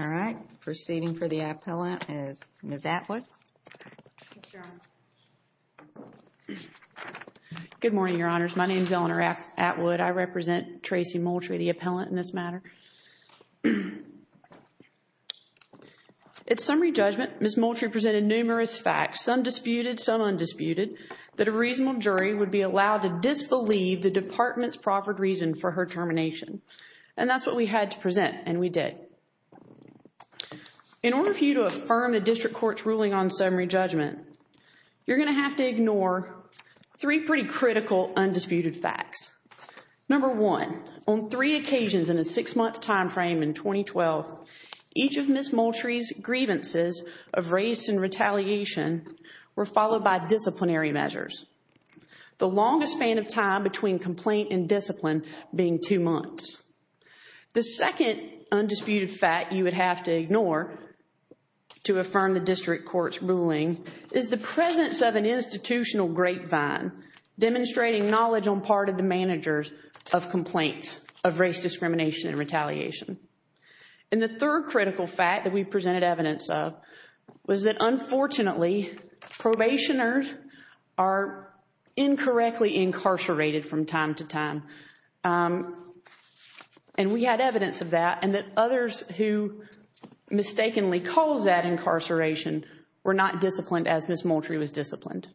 All right, proceeding for the appellant is Ms. Atwood. Good morning, Your Honors. My name is Eleanor Atwood. I represent Traci Moultrie, the appellant in this matter. At summary judgment, Ms. Moultrie presented numerous facts, some disputed, some undisputed, that a reasonable jury would be allowed to disbelieve the department's proper reason for her termination. And that's what we had to present, and we did. In order for you to affirm the district court's ruling on summary judgment, you're gonna have to ignore three pretty critical undisputed facts. Number one, on three occasions in a six-month time frame in 2012, each of Ms. Moultrie's grievances of race and retaliation were followed by disciplinary measures. The longest span of time between complaint and discipline being two months. The second undisputed fact you would have to ignore to affirm the district court's ruling is the presence of an institutional grapevine demonstrating knowledge on part of the managers of complaints of race discrimination and retaliation. And the third critical fact that we presented evidence of was that unfortunately probationers are incorrectly incarcerated from time to time. And we had evidence of that and that others who mistakenly cause that incarceration were not disciplined as Ms. Moultrie was disciplined.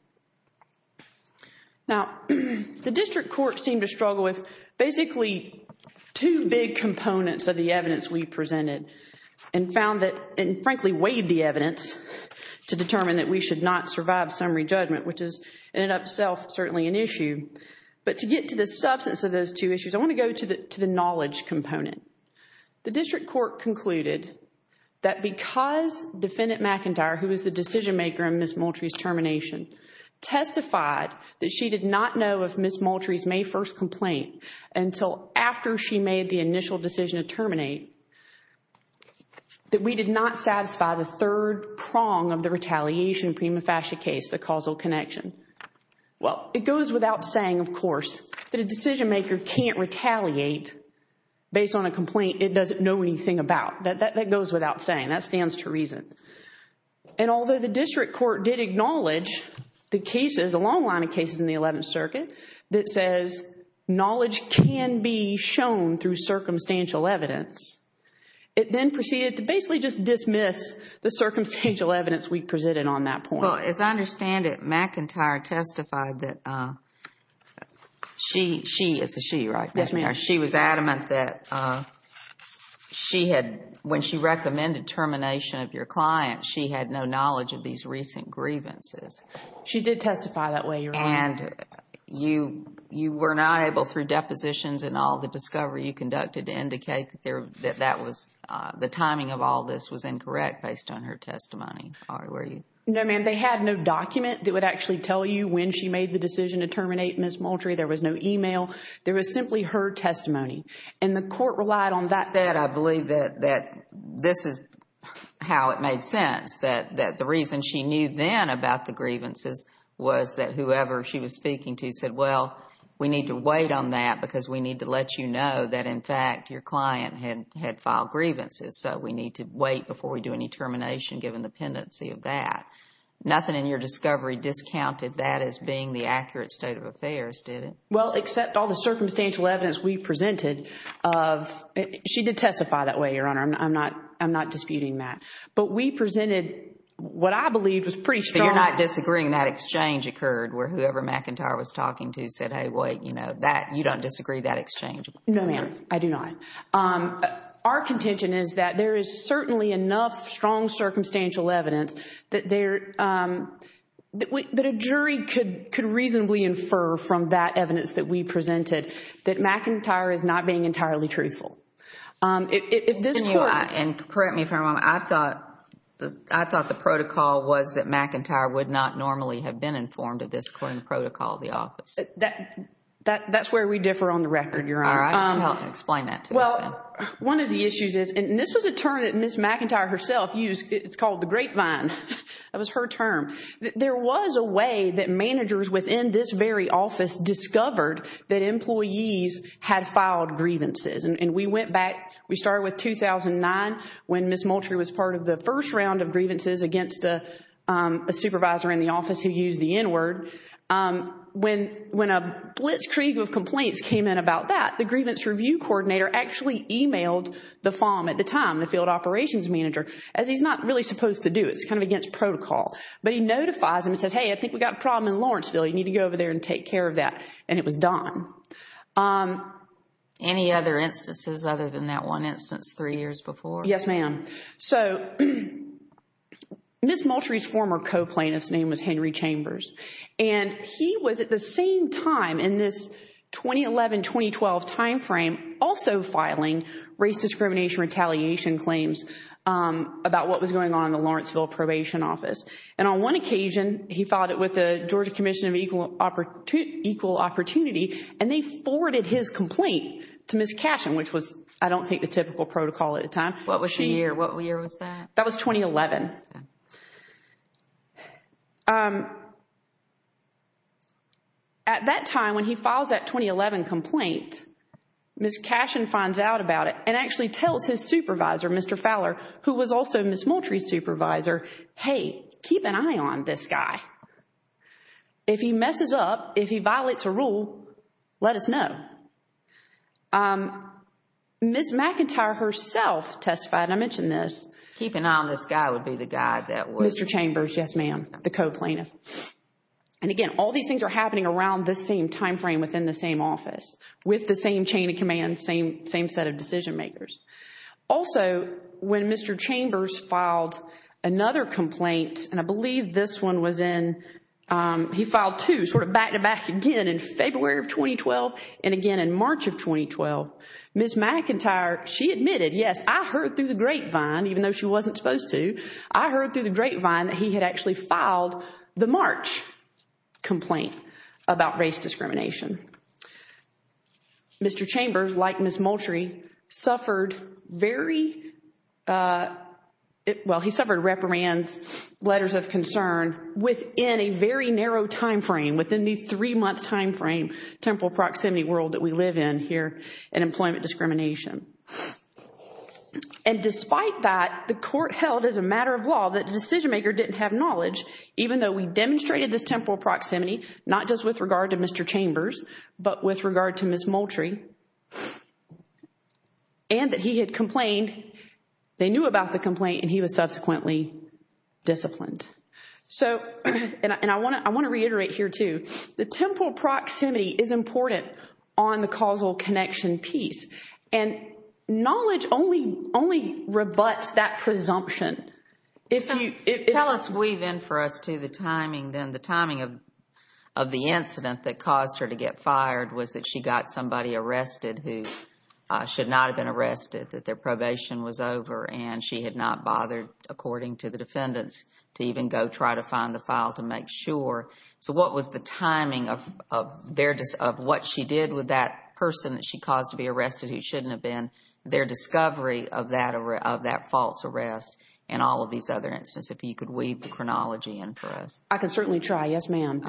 Now, the district court seemed to struggle with basically two big components of the evidence we presented and found that, and frankly weighed the evidence to determine that we should not survive summary judgment, which is in itself certainly an issue. But to get to the substance of those two issues, I want to go to the knowledge component. The district court concluded that because Defendant McIntyre, who was the decision maker in Ms. Moultrie's termination, testified that she did not know if Ms. Moultrie's May 1st complaint until after she made the initial decision to terminate, that we did not satisfy the third prong of the retaliation prima facie case, the causal connection. Well, it goes without saying, of course, that a decision maker can't retaliate based on a complaint it doesn't know anything about. That goes without saying. That stands to reason. And although the district court did acknowledge the cases, a long line of cases in the 11th Circuit, that says knowledge can be shown through circumstantial evidence, it then proceeded to basically just dismiss the circumstantial evidence we presented on that point. Well, as I understand it, McIntyre testified that she, she is a she, right? Yes, ma'am. She was adamant that she had, when she recommended termination of your client, she had no knowledge of these recent grievances. She did testify that way, Your Honor. And you were not able, through depositions and all the discovery you conducted, to indicate that that was, the timing of all this was No, ma'am. They had no document that would actually tell you when she made the decision to terminate Ms. Moultrie. There was no email. There was simply her testimony. And the court relied on that. I believe that, that this is how it made sense, that, that the reason she knew then about the grievances was that whoever she was speaking to said, well, we need to wait on that because we need to let you know that, in fact, your client had, had filed grievances. So we need to Nothing in your discovery discounted that as being the accurate state of affairs, did it? Well, except all the circumstantial evidence we presented of, she did testify that way, Your Honor. I'm not, I'm not disputing that. But we presented what I believe was pretty strong. So you're not disagreeing that exchange occurred where whoever McIntyre was talking to said, hey, wait, you know, that, you don't disagree that exchange? No, ma'am. I do not. Our contention is that there is that a jury could, could reasonably infer from that evidence that we presented that McIntyre is not being entirely truthful. If this court... Can you correct me if I'm wrong? I thought, I thought the protocol was that McIntyre would not normally have been informed of this according to protocol of the office. That, that, that's where we differ on the record, Your Honor. Explain that to us then. Well, one of the issues is, and this was a term that Ms. McIntyre herself used. It's called the grapevine. That was her term. There was a way that managers within this very office discovered that employees had filed grievances. And, and we went back, we started with 2009 when Ms. Moultrie was part of the first round of grievances against a supervisor in the office who used the N-word. When, when a blitzkrieg of complaints came in about that, the grievance review coordinator actually emailed the FOMM at the time, the field operations manager, as he's not really supposed to do. It's kind of against protocol. But he notifies them and says, hey, I think we got a problem in Lawrenceville. You need to go over there and take care of that. And it was done. Any other instances other than that one instance three years before? Yes, ma'am. So, Ms. Moultrie's former co-plaintiff's name was Henry Chambers. And he was at the same time in this 2011-2012 time frame also filing race discrimination retaliation claims about what was going on in the Lawrenceville Probation Office. And on one occasion, he filed it with the Georgia Commission of Equal Opportunity, and they forwarded his complaint to Ms. Cashin, which was, I don't think, the typical protocol at a time. What was the year? What year was that? That was 2011. At that time, when he files that 2011 complaint, Ms. Cashin finds out about it and actually tells his supervisor, Mr. Fowler, who was also Ms. Moultrie's supervisor, hey, keep an eye on this guy. If he messes up, if he violates a rule, let us know. Ms. McIntyre herself testified, and I mentioned this. Keep an eye on this guy would be the guy that was... Mr. Chambers, yes, ma'am, the co-plaintiff. And again, all these things are happening around the same time frame within the same office, with the same chain of command, same set of decision makers. Also, when Mr. Chambers filed another complaint, and I believe this one was in... He filed two, sort of back-to-back again in February of 2012 and again in March of 2012. Ms. McIntyre, she admitted, yes, I heard through the grapevine, even though she wasn't supposed to, I heard through the grapevine that he had actually filed the Mr. Chambers, like Ms. Moultrie, suffered very... Well, he suffered reprimands, letters of concern within a very narrow time frame, within the three-month time frame, temporal proximity world that we live in here, and employment discrimination. And despite that, the court held as a matter of law that the decision maker didn't have knowledge, even though we demonstrated this temporal proximity, not just with regard to Mr. Chambers, but with regard to Ms. Moultrie, and that he had complained, they knew about the complaint, and he was subsequently disciplined. So, and I want to reiterate here, too, the temporal proximity is important on the causal connection piece, and knowledge only rebuts that presumption. Tell us, weave in for us, too, the timing then, the timing of the incident that caused her to get fired, was that she got somebody arrested who should not have been arrested, that their probation was over, and she had not bothered, according to the defendants, to even go try to find the file to make sure. So what was the timing of what she did with that person that she caused to be arrested, who shouldn't have been, their discovery of that false arrest, and all of these other instances, if you could weave the chronology in for us. I can certainly try, yes ma'am.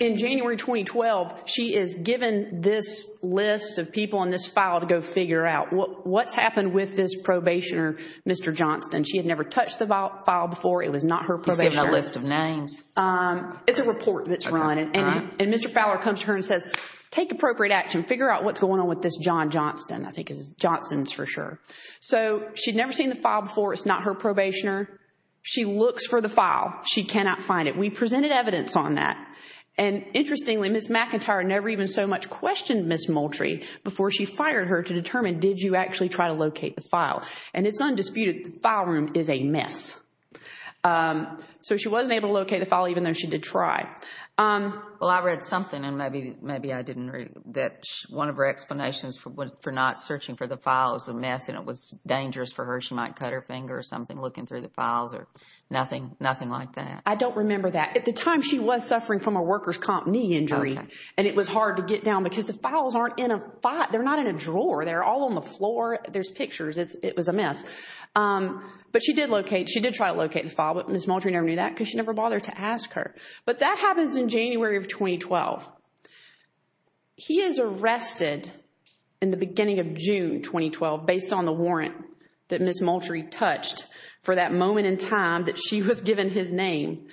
In January 2012, she is given this list of people on this file to go figure out what's happened with this probationer, Mr. Johnston. She had never touched the file before, it was not her probationer. She's given a list of names. It's a report that's run, and Mr. Fowler comes to her and says, take appropriate action, figure out what's going on with this John Johnston, I think it's Johnston's for sure. So she'd never seen the file before, it's not her probationer. She looks for the file, she cannot find it. We presented evidence on that, and interestingly, Ms. McIntyre never even so much questioned Ms. Moultrie before she fired her to determine, did you actually try to locate the file? And it's undisputed, the file room is a mess. So she wasn't able to locate the file, even though she did try. Well, I read something, and maybe I didn't read it, that one of her explanations for not searching for the file is a mess, and it was dangerous for her, she might cut her finger or something looking through the files or nothing, nothing like that. I don't remember that. At the time, she was suffering from a worker's comp knee injury, and it was hard to get down because the files aren't in a, they're not in a drawer, they're all on the floor, there's pictures, it was a mess. But she did locate, she did try to locate the file, but Ms. Moultrie never knew that because she never bothered to ask her. But that happens in January of 2012. He is arrested in the beginning of June 2012 based on the warrant that Ms. Moultrie touched for that moment in time that she was given his name.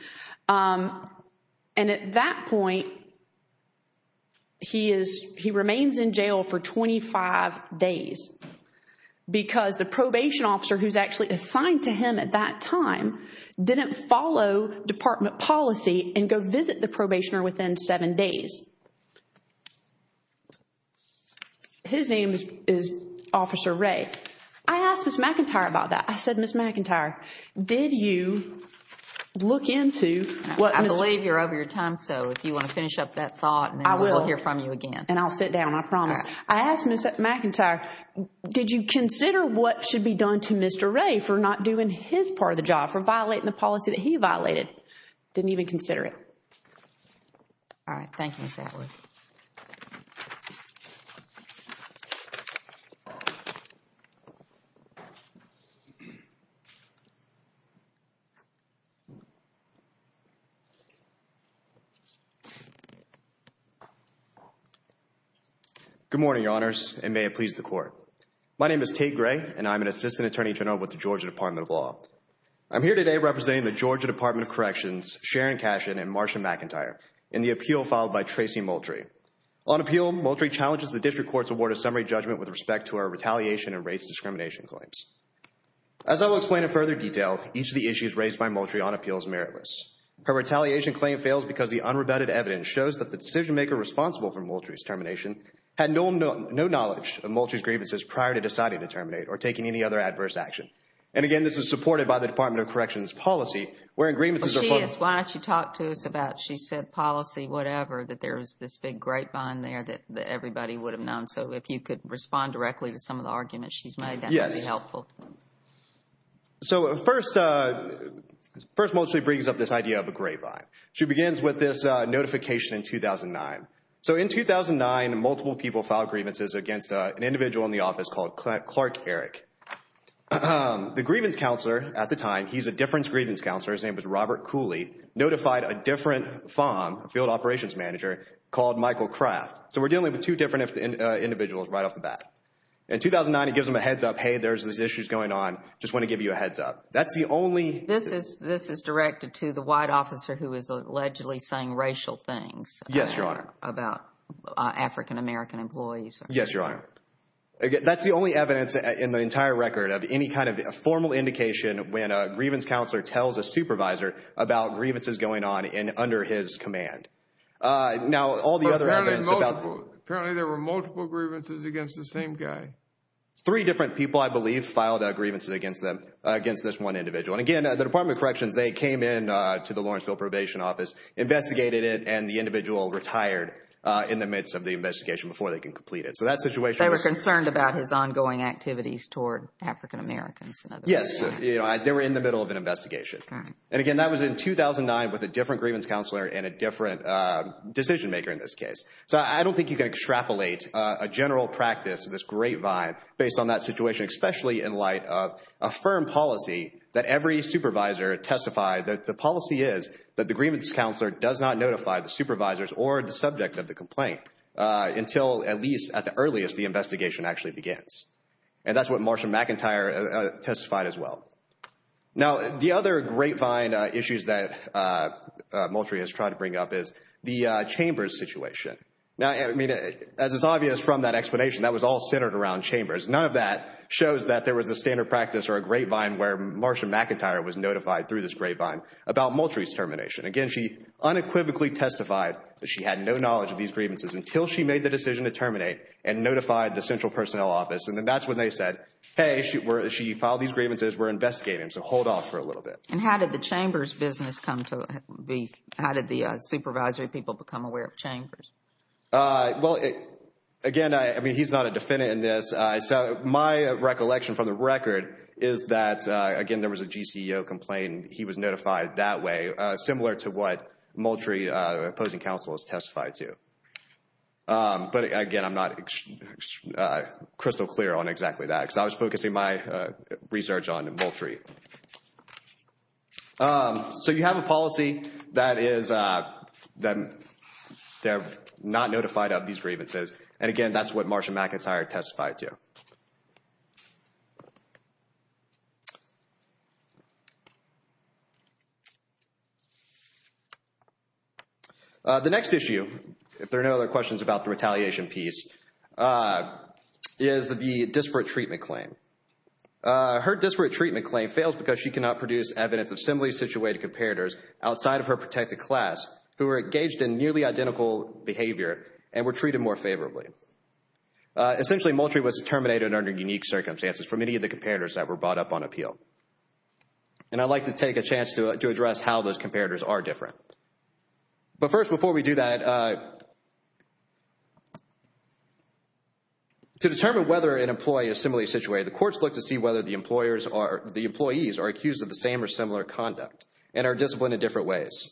And at that point, he is, he remains in jail for 25 days because the probation officer who's actually assigned to him at that time didn't follow department policy and go visit the probationer within seven days. His name is Officer Ray. I asked Ms. McIntyre about that. I said, Ms. McIntyre, did you look into what... I believe you're over your time, so if you want to finish up that thought, we'll hear from you again. And I'll sit down, I promise. I asked Ms. McIntyre, did you consider what should be done to Mr. Ray for not doing his part of the job, for violating the policy that he violated? Didn't even consider it. All right, thank you, Ms. Atwood. Good morning, Your Honors, and may it please the Court. My name is Tate Gray and I'm an assistant attorney general with the Georgia Department of Law. I'm here today representing the Georgia Department of Corrections, Sharon Cashin, and Marsha McIntyre in the appeal filed by Tracy Moultrie. On appeal, Moultrie challenges the district court's award of summary judgment with respect to her retaliation and race discrimination claims. As I will explain in further detail, each of the issues raised by Moultrie on appeal is meritless. Her retaliation claim fails because the unrebutted evidence shows that the decision-maker responsible for Moultrie's termination had no knowledge of Moultrie's grievances prior to deciding to terminate or taking any other adverse action. And again, this is a Georgia Department of Corrections policy where grievances are filed... She is. Why don't you talk to us about, she said policy, whatever, that there is this big grapevine there that everybody would have known. So if you could respond directly to some of the arguments she's made, that would be helpful. Yes. So first, Moultrie brings up this idea of a grapevine. She begins with this notification in 2009. So in 2009, multiple people filed grievances against an individual in the office called Clark Erick. The grievance counselor at the time, he's a difference grievance counselor, his name was Robert Cooley, notified a different FOM, field operations manager, called Michael Kraft. So we're dealing with two different individuals right off the bat. In 2009, he gives them a heads up, hey, there's this issues going on, just want to give you a heads up. That's the only... This is directed to the white officer who is allegedly saying racial things. Yes, Your Honor. About African-American employees. Yes, Your Honor. Again, that's the only evidence in the entire record of any kind of a formal indication when a grievance counselor tells a supervisor about grievances going on in under his command. Now, all the other evidence about... Apparently there were multiple grievances against the same guy. Three different people, I believe, filed grievances against them, against this one individual. And again, the Department of Corrections, they came in to the Lawrenceville Probation Office, investigated it, and the individual retired in the midst of the investigation before they can complete it. So that situation... They were concerned about his ongoing activities toward African-Americans. Yes, they were in the middle of an investigation. And again, that was in 2009 with a different grievance counselor and a different decision-maker in this case. So I don't think you can extrapolate a general practice, this great vibe, based on that situation, especially in light of a firm policy that every supervisor testified that the policy is that the grievance counselor does not notify the supervisors or the subject of the complaint until, at least at the earliest, the investigation actually begins. And that's what Marsha McIntyre testified as well. Now, the other grapevine issues that Moultrie has tried to bring up is the Chambers situation. Now, I mean, as it's obvious from that explanation, that was all centered around Chambers. None of that shows that there was a standard practice or a grapevine where Marsha McIntyre was notified through this grapevine about Moultrie's termination. Again, she unequivocally testified that she had no knowledge of these grievances until she made the decision to terminate and notified the Central Personnel Office. And then that's when they said, hey, she filed these grievances, we're investigating, so hold off for a little bit. And how did the Chambers business come to be? How did the supervisory people become aware of Chambers? Well, again, I mean, he's not a defendant in this. So my recollection from the record is that, again, there was a GCEO complaint. He was notified that way, similar to what Moultrie, opposing counsel, has testified to. But again, I'm not crystal clear on exactly that, because I was focusing my research on Moultrie. So you have a policy that they're not notified of these grievances. And again, that's what Marsha McIntyre testified to. The next issue, if there are no other questions about the retaliation piece, is the disparate treatment claim. Her disparate treatment claim fails because she cannot produce evidence of similarly situated comparators outside of her protected class who were engaged in nearly identical behavior and were treated more favorably. Essentially, Moultrie was terminated under unique circumstances for many of the comparators that were brought up on appeal. And I'd like to take a chance to address how those comparators are different. But first, before we do that, to determine whether an employee is similarly situated, the courts look to see whether the employees are accused of the same or similar conduct and are disciplined in different ways.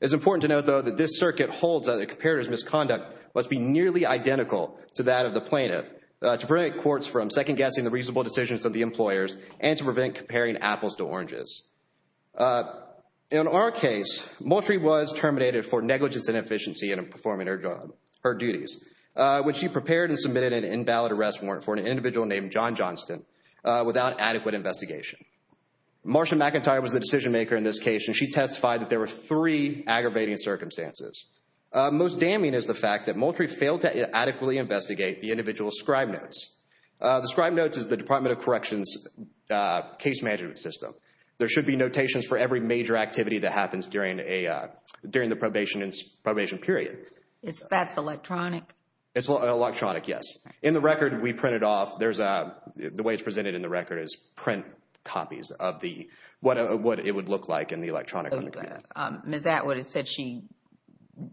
It's important to note, though, that this circuit holds that a comparator's misconduct must be nearly identical to that of the plaintiff to prevent courts from second-guessing the reasonable decisions of the employers and to Moultrie was terminated for negligence and efficiency in performing her job, her duties, when she prepared and submitted an invalid arrest warrant for an individual named John Johnston without adequate investigation. Marsha McIntyre was the decision-maker in this case and she testified that there were three aggravating circumstances. Most damning is the fact that Moultrie failed to adequately investigate the individual's scribe notes. The scribe notes is the Department of Corrections case management system. There should be during the probation period. That's electronic? It's electronic, yes. In the record we printed off, there's a, the way it's presented in the record is print copies of what it would look like in the electronic. Ms. Atwood has said she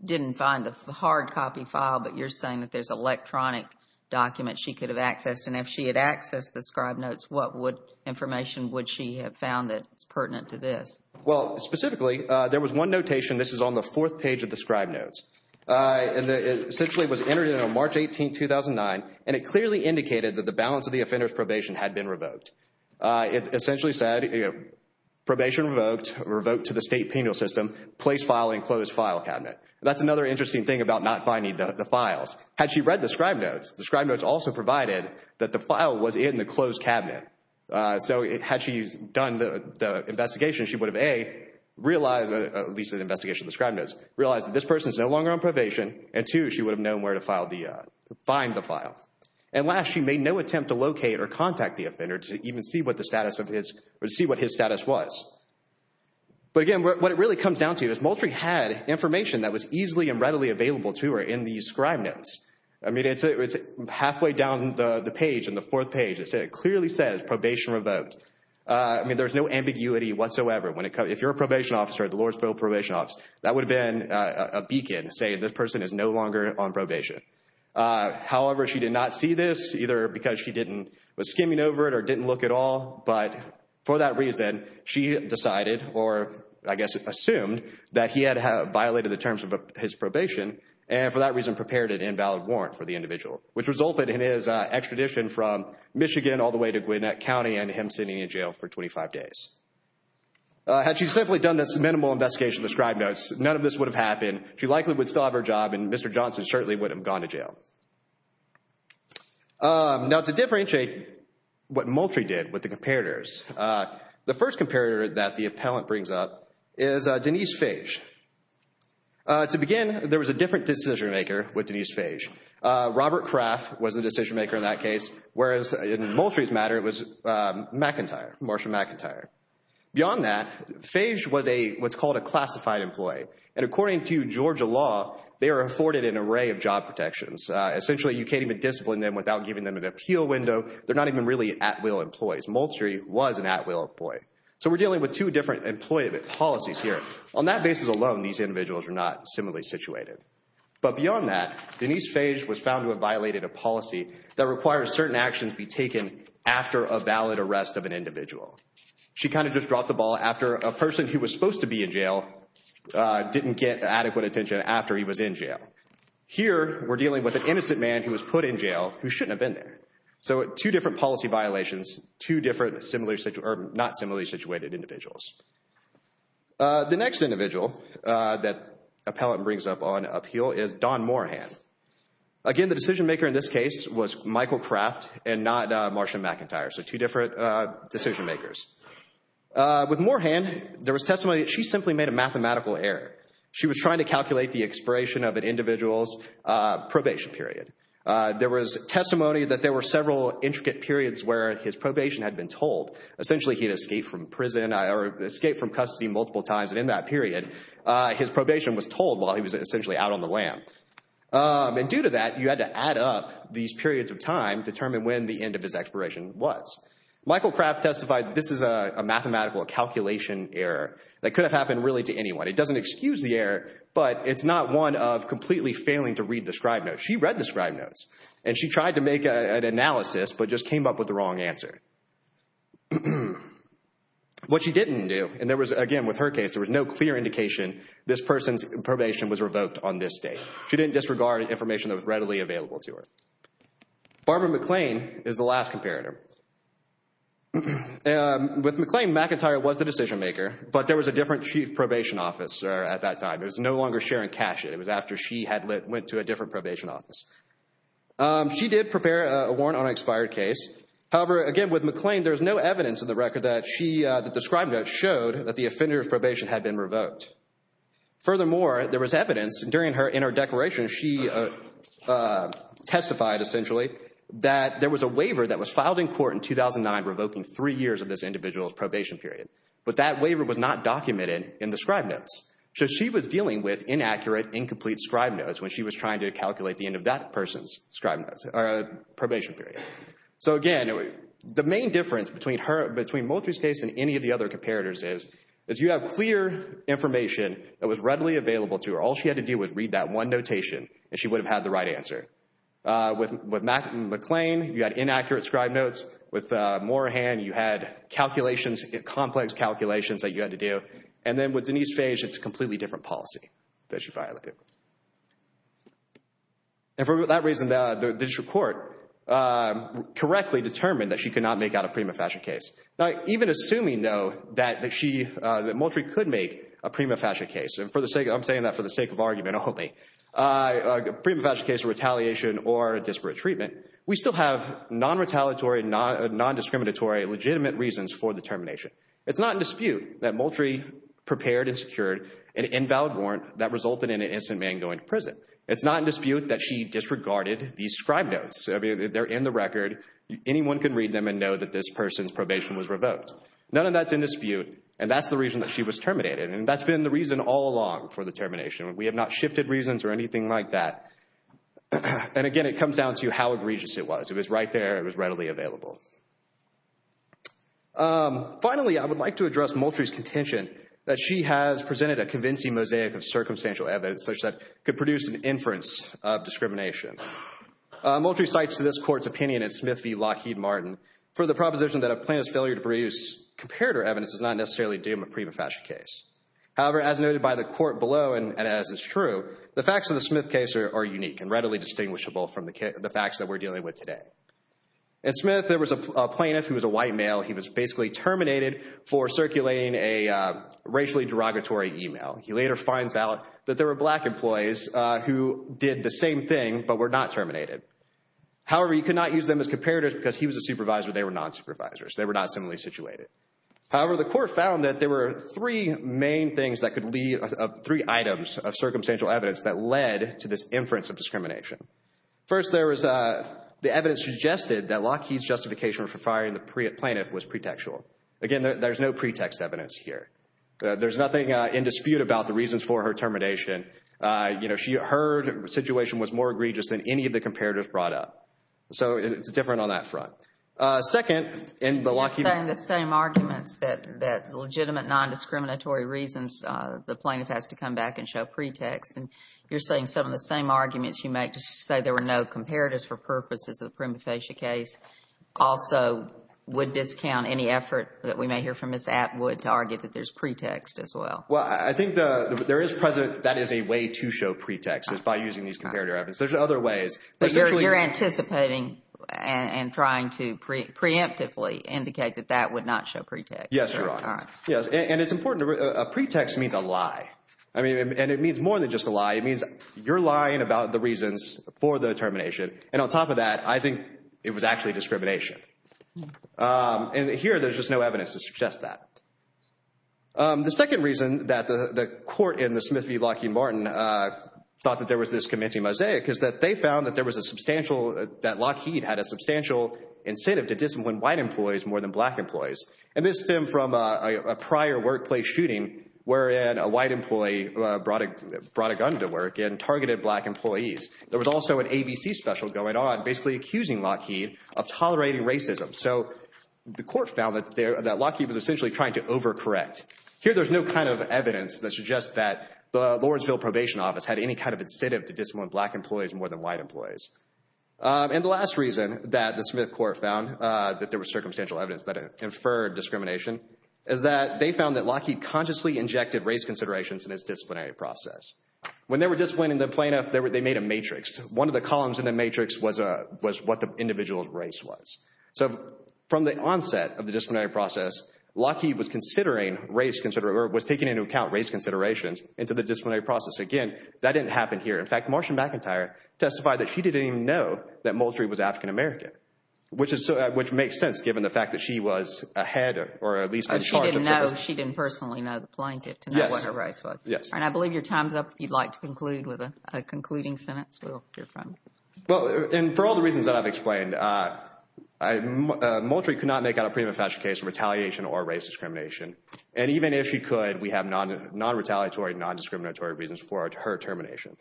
didn't find the hard copy file but you're saying that there's electronic documents she could have accessed and if she had accessed the scribe notes, what information would she have found that's pertinent to this? Well, specifically there was one notation, this is on the fourth page of the scribe notes, and it essentially was entered on March 18, 2009 and it clearly indicated that the balance of the offenders probation had been revoked. It essentially said probation revoked, revoked to the state penal system, place file in closed file cabinet. That's another interesting thing about not finding the files. Had she read the scribe notes, the scribe notes also provided that the file was in the closed cabinet. So had she done the investigation, she would have A, realized, at least in the investigation of the scribe notes, realized that this person is no longer on probation and two, she would have known where to file the, find the file. And last, she made no attempt to locate or contact the offender to even see what the status of his, or see what his status was. But again, what it really comes down to is Moultrie had information that was easily and readily available to her in these scribe notes. I mean, it's halfway down the page, in the fourth page, it clearly says probation revoked. I mean, there's no ambiguity whatsoever when it comes, if you're a probation officer at the Lordsville Probation Office, that would have been a beacon saying this person is no longer on probation. However, she did not see this, either because she didn't, was skimming over it or didn't look at all. But for that reason, she decided, or I guess assumed, that he had violated the terms of his probation and for that reason prepared an invalid warrant for the individual, which resulted in his extradition from Michigan all the way to him sitting in jail for 25 days. Had she simply done this minimal investigation of the scribe notes, none of this would have happened. She likely would still have her job and Mr. Johnson certainly wouldn't have gone to jail. Now, to differentiate what Moultrie did with the comparators, the first comparator that the appellant brings up is Denise Fage. To begin, there was a different decision-maker with Denise Fage. Robert Kraft was the decision-maker in that McIntyre, Marsha McIntyre. Beyond that, Fage was what's called a classified employee and according to Georgia law, they are afforded an array of job protections. Essentially, you can't even discipline them without giving them an appeal window. They're not even really at-will employees. Moultrie was an at-will employee. So we're dealing with two different employee policies here. On that basis alone, these individuals are not similarly situated. But beyond that, Denise Fage was found to have violated a policy that requires certain actions be an individual. She kind of just dropped the ball after a person who was supposed to be in jail didn't get adequate attention after he was in jail. Here, we're dealing with an innocent man who was put in jail who shouldn't have been there. So two different policy violations, two different similarly situated, or not similarly situated individuals. The next individual that appellant brings up on appeal is Don Moorhan. Again, the decision-maker in this case was Michael Kraft and not Marsha McIntyre. So two different decision-makers. With Moorhan, there was testimony that she simply made a mathematical error. She was trying to calculate the expiration of an individual's probation period. There was testimony that there were several intricate periods where his probation had been told. Essentially, he had escaped from prison or escaped from custody multiple times and in that period, his probation was told while he was essentially out on the lam. And due to that, you had to add up these periods of time to determine when the end of his expiration was. Michael Kraft testified this is a mathematical calculation error that could have happened really to anyone. It doesn't excuse the error, but it's not one of completely failing to read the scribe notes. She read the scribe notes and she tried to make an analysis but just came up with the wrong answer. What she didn't do, and there was again with her case, there was no clear indication this person's probation was revoked on this date. She didn't disregard information that was readily available to her. Barbara McLean is the last comparator. With McLean, McIntyre was the decision-maker, but there was a different chief probation officer at that time. It was no longer Sharon Cashett. It was after she had went to a different probation office. She did prepare a warrant on an expired case. However, again with McLean, there's no evidence in the record that she, the scribe notes, showed that the offender of probation had been revoked. Furthermore, there was evidence during her, in her declaration, she testified essentially that there was a waiver that was filed in court in 2009 revoking three years of this individual's probation period, but that waiver was not documented in the scribe notes. So she was dealing with inaccurate, incomplete scribe notes when she was trying to calculate the end of that person's scribe notes, or probation period. So again, the main difference between her, between Moultrie's case and any of the other comparators is, is you have clear information that was readily available to her. All she had to do was read that one notation and she would have had the right answer. With McLean, you had inaccurate scribe notes. With Moorhan, you had calculations, complex calculations that you had to do. And then with Denise Fage, it's a completely different policy that she violated. And for that reason, the district court correctly determined that she could not make out a prima facie case. Now even assuming though that she, that I'm saying that for the sake of argument only, a prima facie case of retaliation or a disparate treatment, we still have non-retaliatory, non-discriminatory, legitimate reasons for the termination. It's not in dispute that Moultrie prepared and secured an invalid warrant that resulted in an instant man going to prison. It's not in dispute that she disregarded these scribe notes. I mean, they're in the record. Anyone can read them and know that this person's probation was revoked. None of that's in dispute, and that's the reason for the termination. We have not shifted reasons or anything like that. And again, it comes down to how egregious it was. It was right there. It was readily available. Finally, I would like to address Moultrie's contention that she has presented a convincing mosaic of circumstantial evidence such that could produce an inference of discrimination. Moultrie cites to this court's opinion in Smith v. Lockheed Martin for the proposition that a plaintiff's failure to produce comparator evidence is not necessarily due to a prima facie case. However, as noted by the court below, and as is true, the facts of the Smith case are unique and readily distinguishable from the facts that we're dealing with today. In Smith, there was a plaintiff who was a white male. He was basically terminated for circulating a racially derogatory email. He later finds out that there were black employees who did the same thing but were not terminated. However, you could not use them as comparators because he was a supervisor. They were non-supervisors. They were not criminally situated. However, the court found that there were three main things that could lead, three items of circumstantial evidence that led to this inference of discrimination. First, there was the evidence suggested that Lockheed's justification for firing the plaintiff was pretextual. Again, there's no pretext evidence here. There's nothing in dispute about the reasons for her termination. You know, her situation was more egregious than any of the the same arguments that legitimate non-discriminatory reasons the plaintiff has to come back and show pretext, and you're saying some of the same arguments you make to say there were no comparatives for purposes of the prima facie case also would discount any effort that we may hear from Ms. Atwood to argue that there's pretext as well. Well, I think there is present, that is a way to show pretext is by using these comparative evidence. There's other ways. But you're anticipating and trying to preemptively indicate that that would not show pretext. Yes, you're right. Yes, and it's important. A pretext means a lie. I mean, and it means more than just a lie. It means you're lying about the reasons for the termination, and on top of that, I think it was actually discrimination. And here, there's just no evidence to suggest that. The second reason that the the court in the Smith v. Lockheed Martin thought that there was this is that they found that there was a substantial, that Lockheed had a substantial incentive to discipline white employees more than black employees. And this stemmed from a prior workplace shooting wherein a white employee brought a gun to work and targeted black employees. There was also an ABC special going on basically accusing Lockheed of tolerating racism. So the court found that Lockheed was essentially trying to overcorrect. Here, there's no kind of evidence that suggests that the Lawrenceville Probation Office had any kind of incentive to discipline black employees more than white employees. And the last reason that the Smith court found that there was circumstantial evidence that it inferred discrimination is that they found that Lockheed consciously injected race considerations in its disciplinary process. When they were disciplining the plaintiff, they made a matrix. One of the columns in the matrix was what the individual's race was. So from the onset of the disciplinary process, Lockheed was considering race considerations, or was taking into account race considerations into the disciplinary process. Again, that didn't happen here. In fact, Marsha McIntyre testified that she didn't even know that Moultrie was African-American, which makes sense given the fact that she was ahead or at least in charge of the case. She didn't know, she didn't personally know the plaintiff to know what her race was. Yes. And I believe your time's up if you'd like to conclude with a concluding sentence, Will, your friend. Well, and for all the reasons that I've explained, Moultrie could not make out a pre-manifesto case of retaliation or race discrimination. And even if she could, we have non-retaliatory, non- her termination.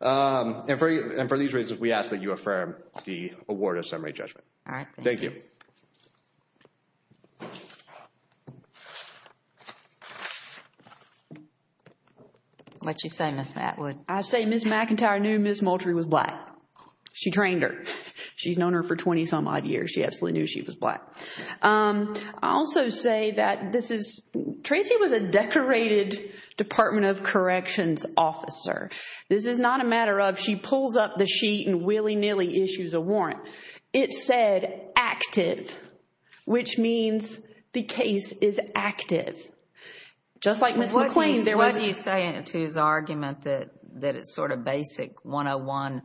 And for these reasons, we ask that you affirm the award of summary judgment. All right, thank you. Thank you. What'd you say, Ms. Matwood? I say Ms. McIntyre knew Ms. Moultrie was black. She trained her. She's known her for 20 some odd years. She absolutely knew she was black. I also say that this is, Tracy was a decorated Department of Corrections officer. This is not a matter of she pulls up the sheet and willy-nilly issues a warrant. It said active, which means the case is active. Just like Ms. McLean, there was... What do you say to his argument that it's sort of basic 101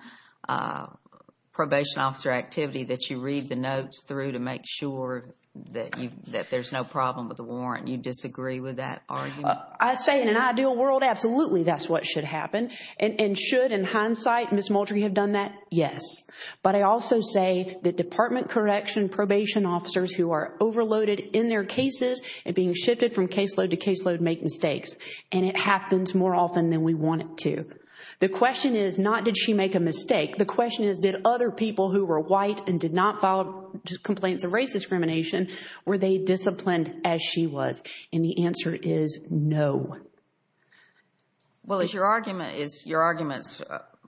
probation officer activity that you read the notes through to make sure that there's no problem with the warrant? You disagree with that I say in an ideal world, absolutely, that's what should happen. And should, in hindsight, Ms. Moultrie have done that? Yes. But I also say that Department of Corrections probation officers who are overloaded in their cases and being shifted from caseload to caseload make mistakes. And it happens more often than we want it to. The question is not did she make a mistake? The question is did other people who were white and did not file complaints of And the answer is no. Well, is your argument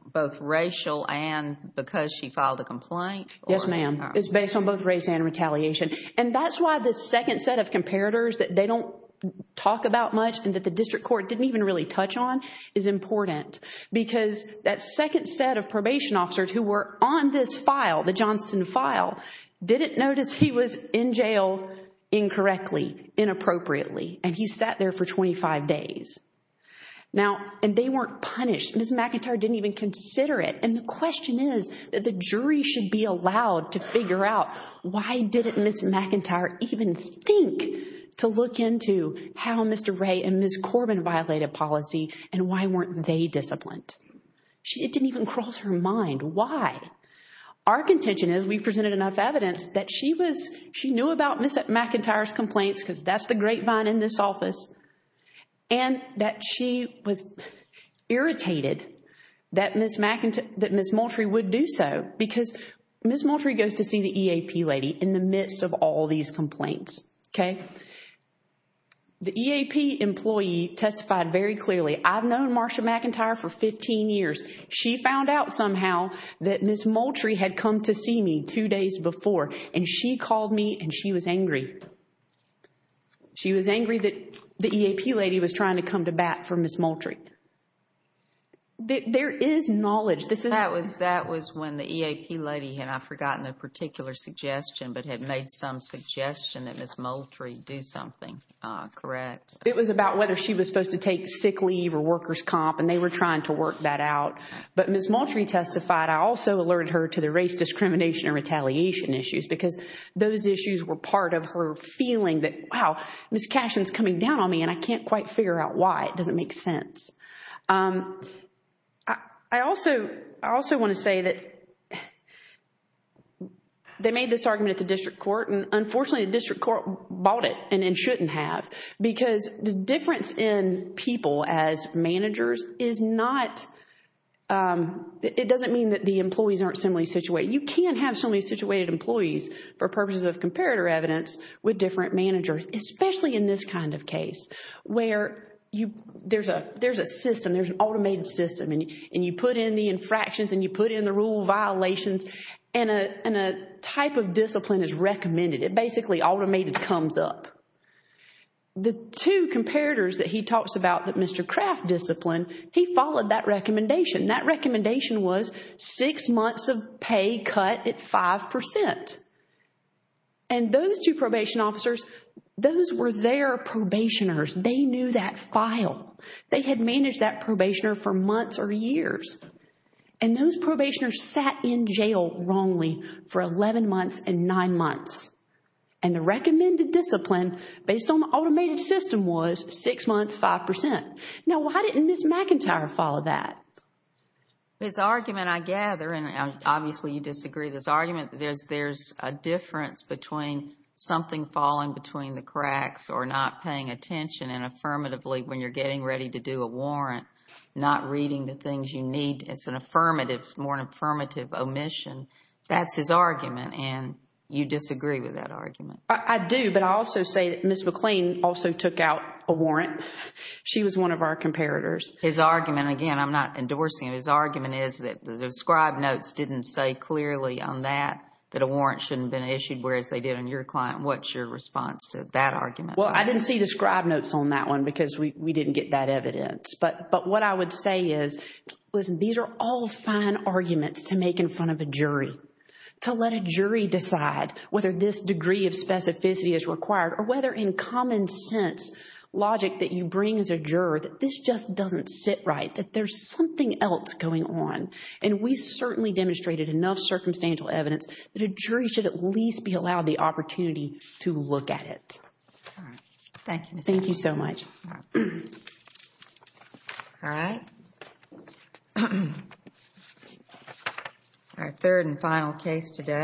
both racial and because she filed a complaint? Yes, ma'am. It's based on both race and retaliation. And that's why the second set of comparators that they don't talk about much and that the district court didn't even really touch on is important. Because that second set of probation officers who were on this file, the Johnston file, didn't notice he was in jail incorrectly, inappropriately. And he sat there for 25 days. Now, and they weren't punished. Ms. McIntyre didn't even consider it. And the question is that the jury should be allowed to figure out why didn't Ms. McIntyre even think to look into how Mr. Ray and Ms. Corbin violated policy and why weren't they disciplined? It didn't even cross her mind. Why? Our contention is we presented enough evidence that she was, she knew about Ms. McIntyre's complaints because that's the grapevine in this office. And that she was irritated that Ms. Moultrie would do so because Ms. Moultrie goes to see the EAP lady in the midst of all these complaints. Okay? The EAP employee testified very clearly. I've known Marsha McIntyre for 15 years. She found out somehow that Ms. Moultrie had come to see me two days before and she called me and she was angry. She was angry that the EAP lady was trying to come to bat for Ms. Moultrie. There is knowledge. This is- That was when the EAP lady had, I've forgotten the particular suggestion, but had made some suggestion that Ms. Moultrie do something, correct? It was about whether she was supposed to take sick leave or worker's comp, and they were trying to work that out. But Ms. Moultrie testified, I also alerted her to the race discrimination and retaliation issues because those issues were part of her feeling that, wow, Ms. Cashion is coming down on me and I can't quite figure out why. It doesn't make sense. I also want to say that they made this argument at the district court and unfortunately the district court bought it and shouldn't have because the managers is not- It doesn't mean that the employees aren't similarly situated. You can have similarly situated employees for purposes of comparator evidence with different managers, especially in this kind of case where there's a system, there's an automated system and you put in the infractions and you put in the rule violations and a type of discipline is recommended. It basically automated comes up. The two comparators that he talks about that Mr. Kraft disciplined, he followed that recommendation. That recommendation was six months of pay cut at 5%. And those two probation officers, those were their probationers. They knew that file. They had managed that probationer for months or years. And those probationers sat in jail wrongly for 11 months and nine months. And the recommended discipline based on the automated system was six months, 5%. Now, why didn't Ms. McIntyre follow that? His argument, I gather, and obviously you disagree, this argument that there's a difference between something falling between the cracks or not paying attention and affirmatively when you're getting ready to do a warrant, not reading the things you need. It's an affirmative, more an affirmative omission. That's his argument and you disagree with that argument. I do, but I also say that Ms. McLean also took out a warrant. She was one of our comparators. His argument, again, I'm not endorsing it. His argument is that the scribe notes didn't say clearly on that, that a warrant shouldn't have been issued, whereas they did on your client. What's your response to that argument? Well, I didn't see the scribe notes on that one because we didn't get that evidence. But what I would say is, listen, these are all fine arguments to make in front of a jury, to let a jury decide whether this degree of specificity is required or whether in common sense logic that you bring as a juror that this just doesn't sit right, that there's something else going on. And we certainly demonstrated enough circumstantial evidence that a jury should at least be allowed the opportunity to look at it. All right. Thank you, Ms. McLean. Thank you so much. All right. Our third and final case today.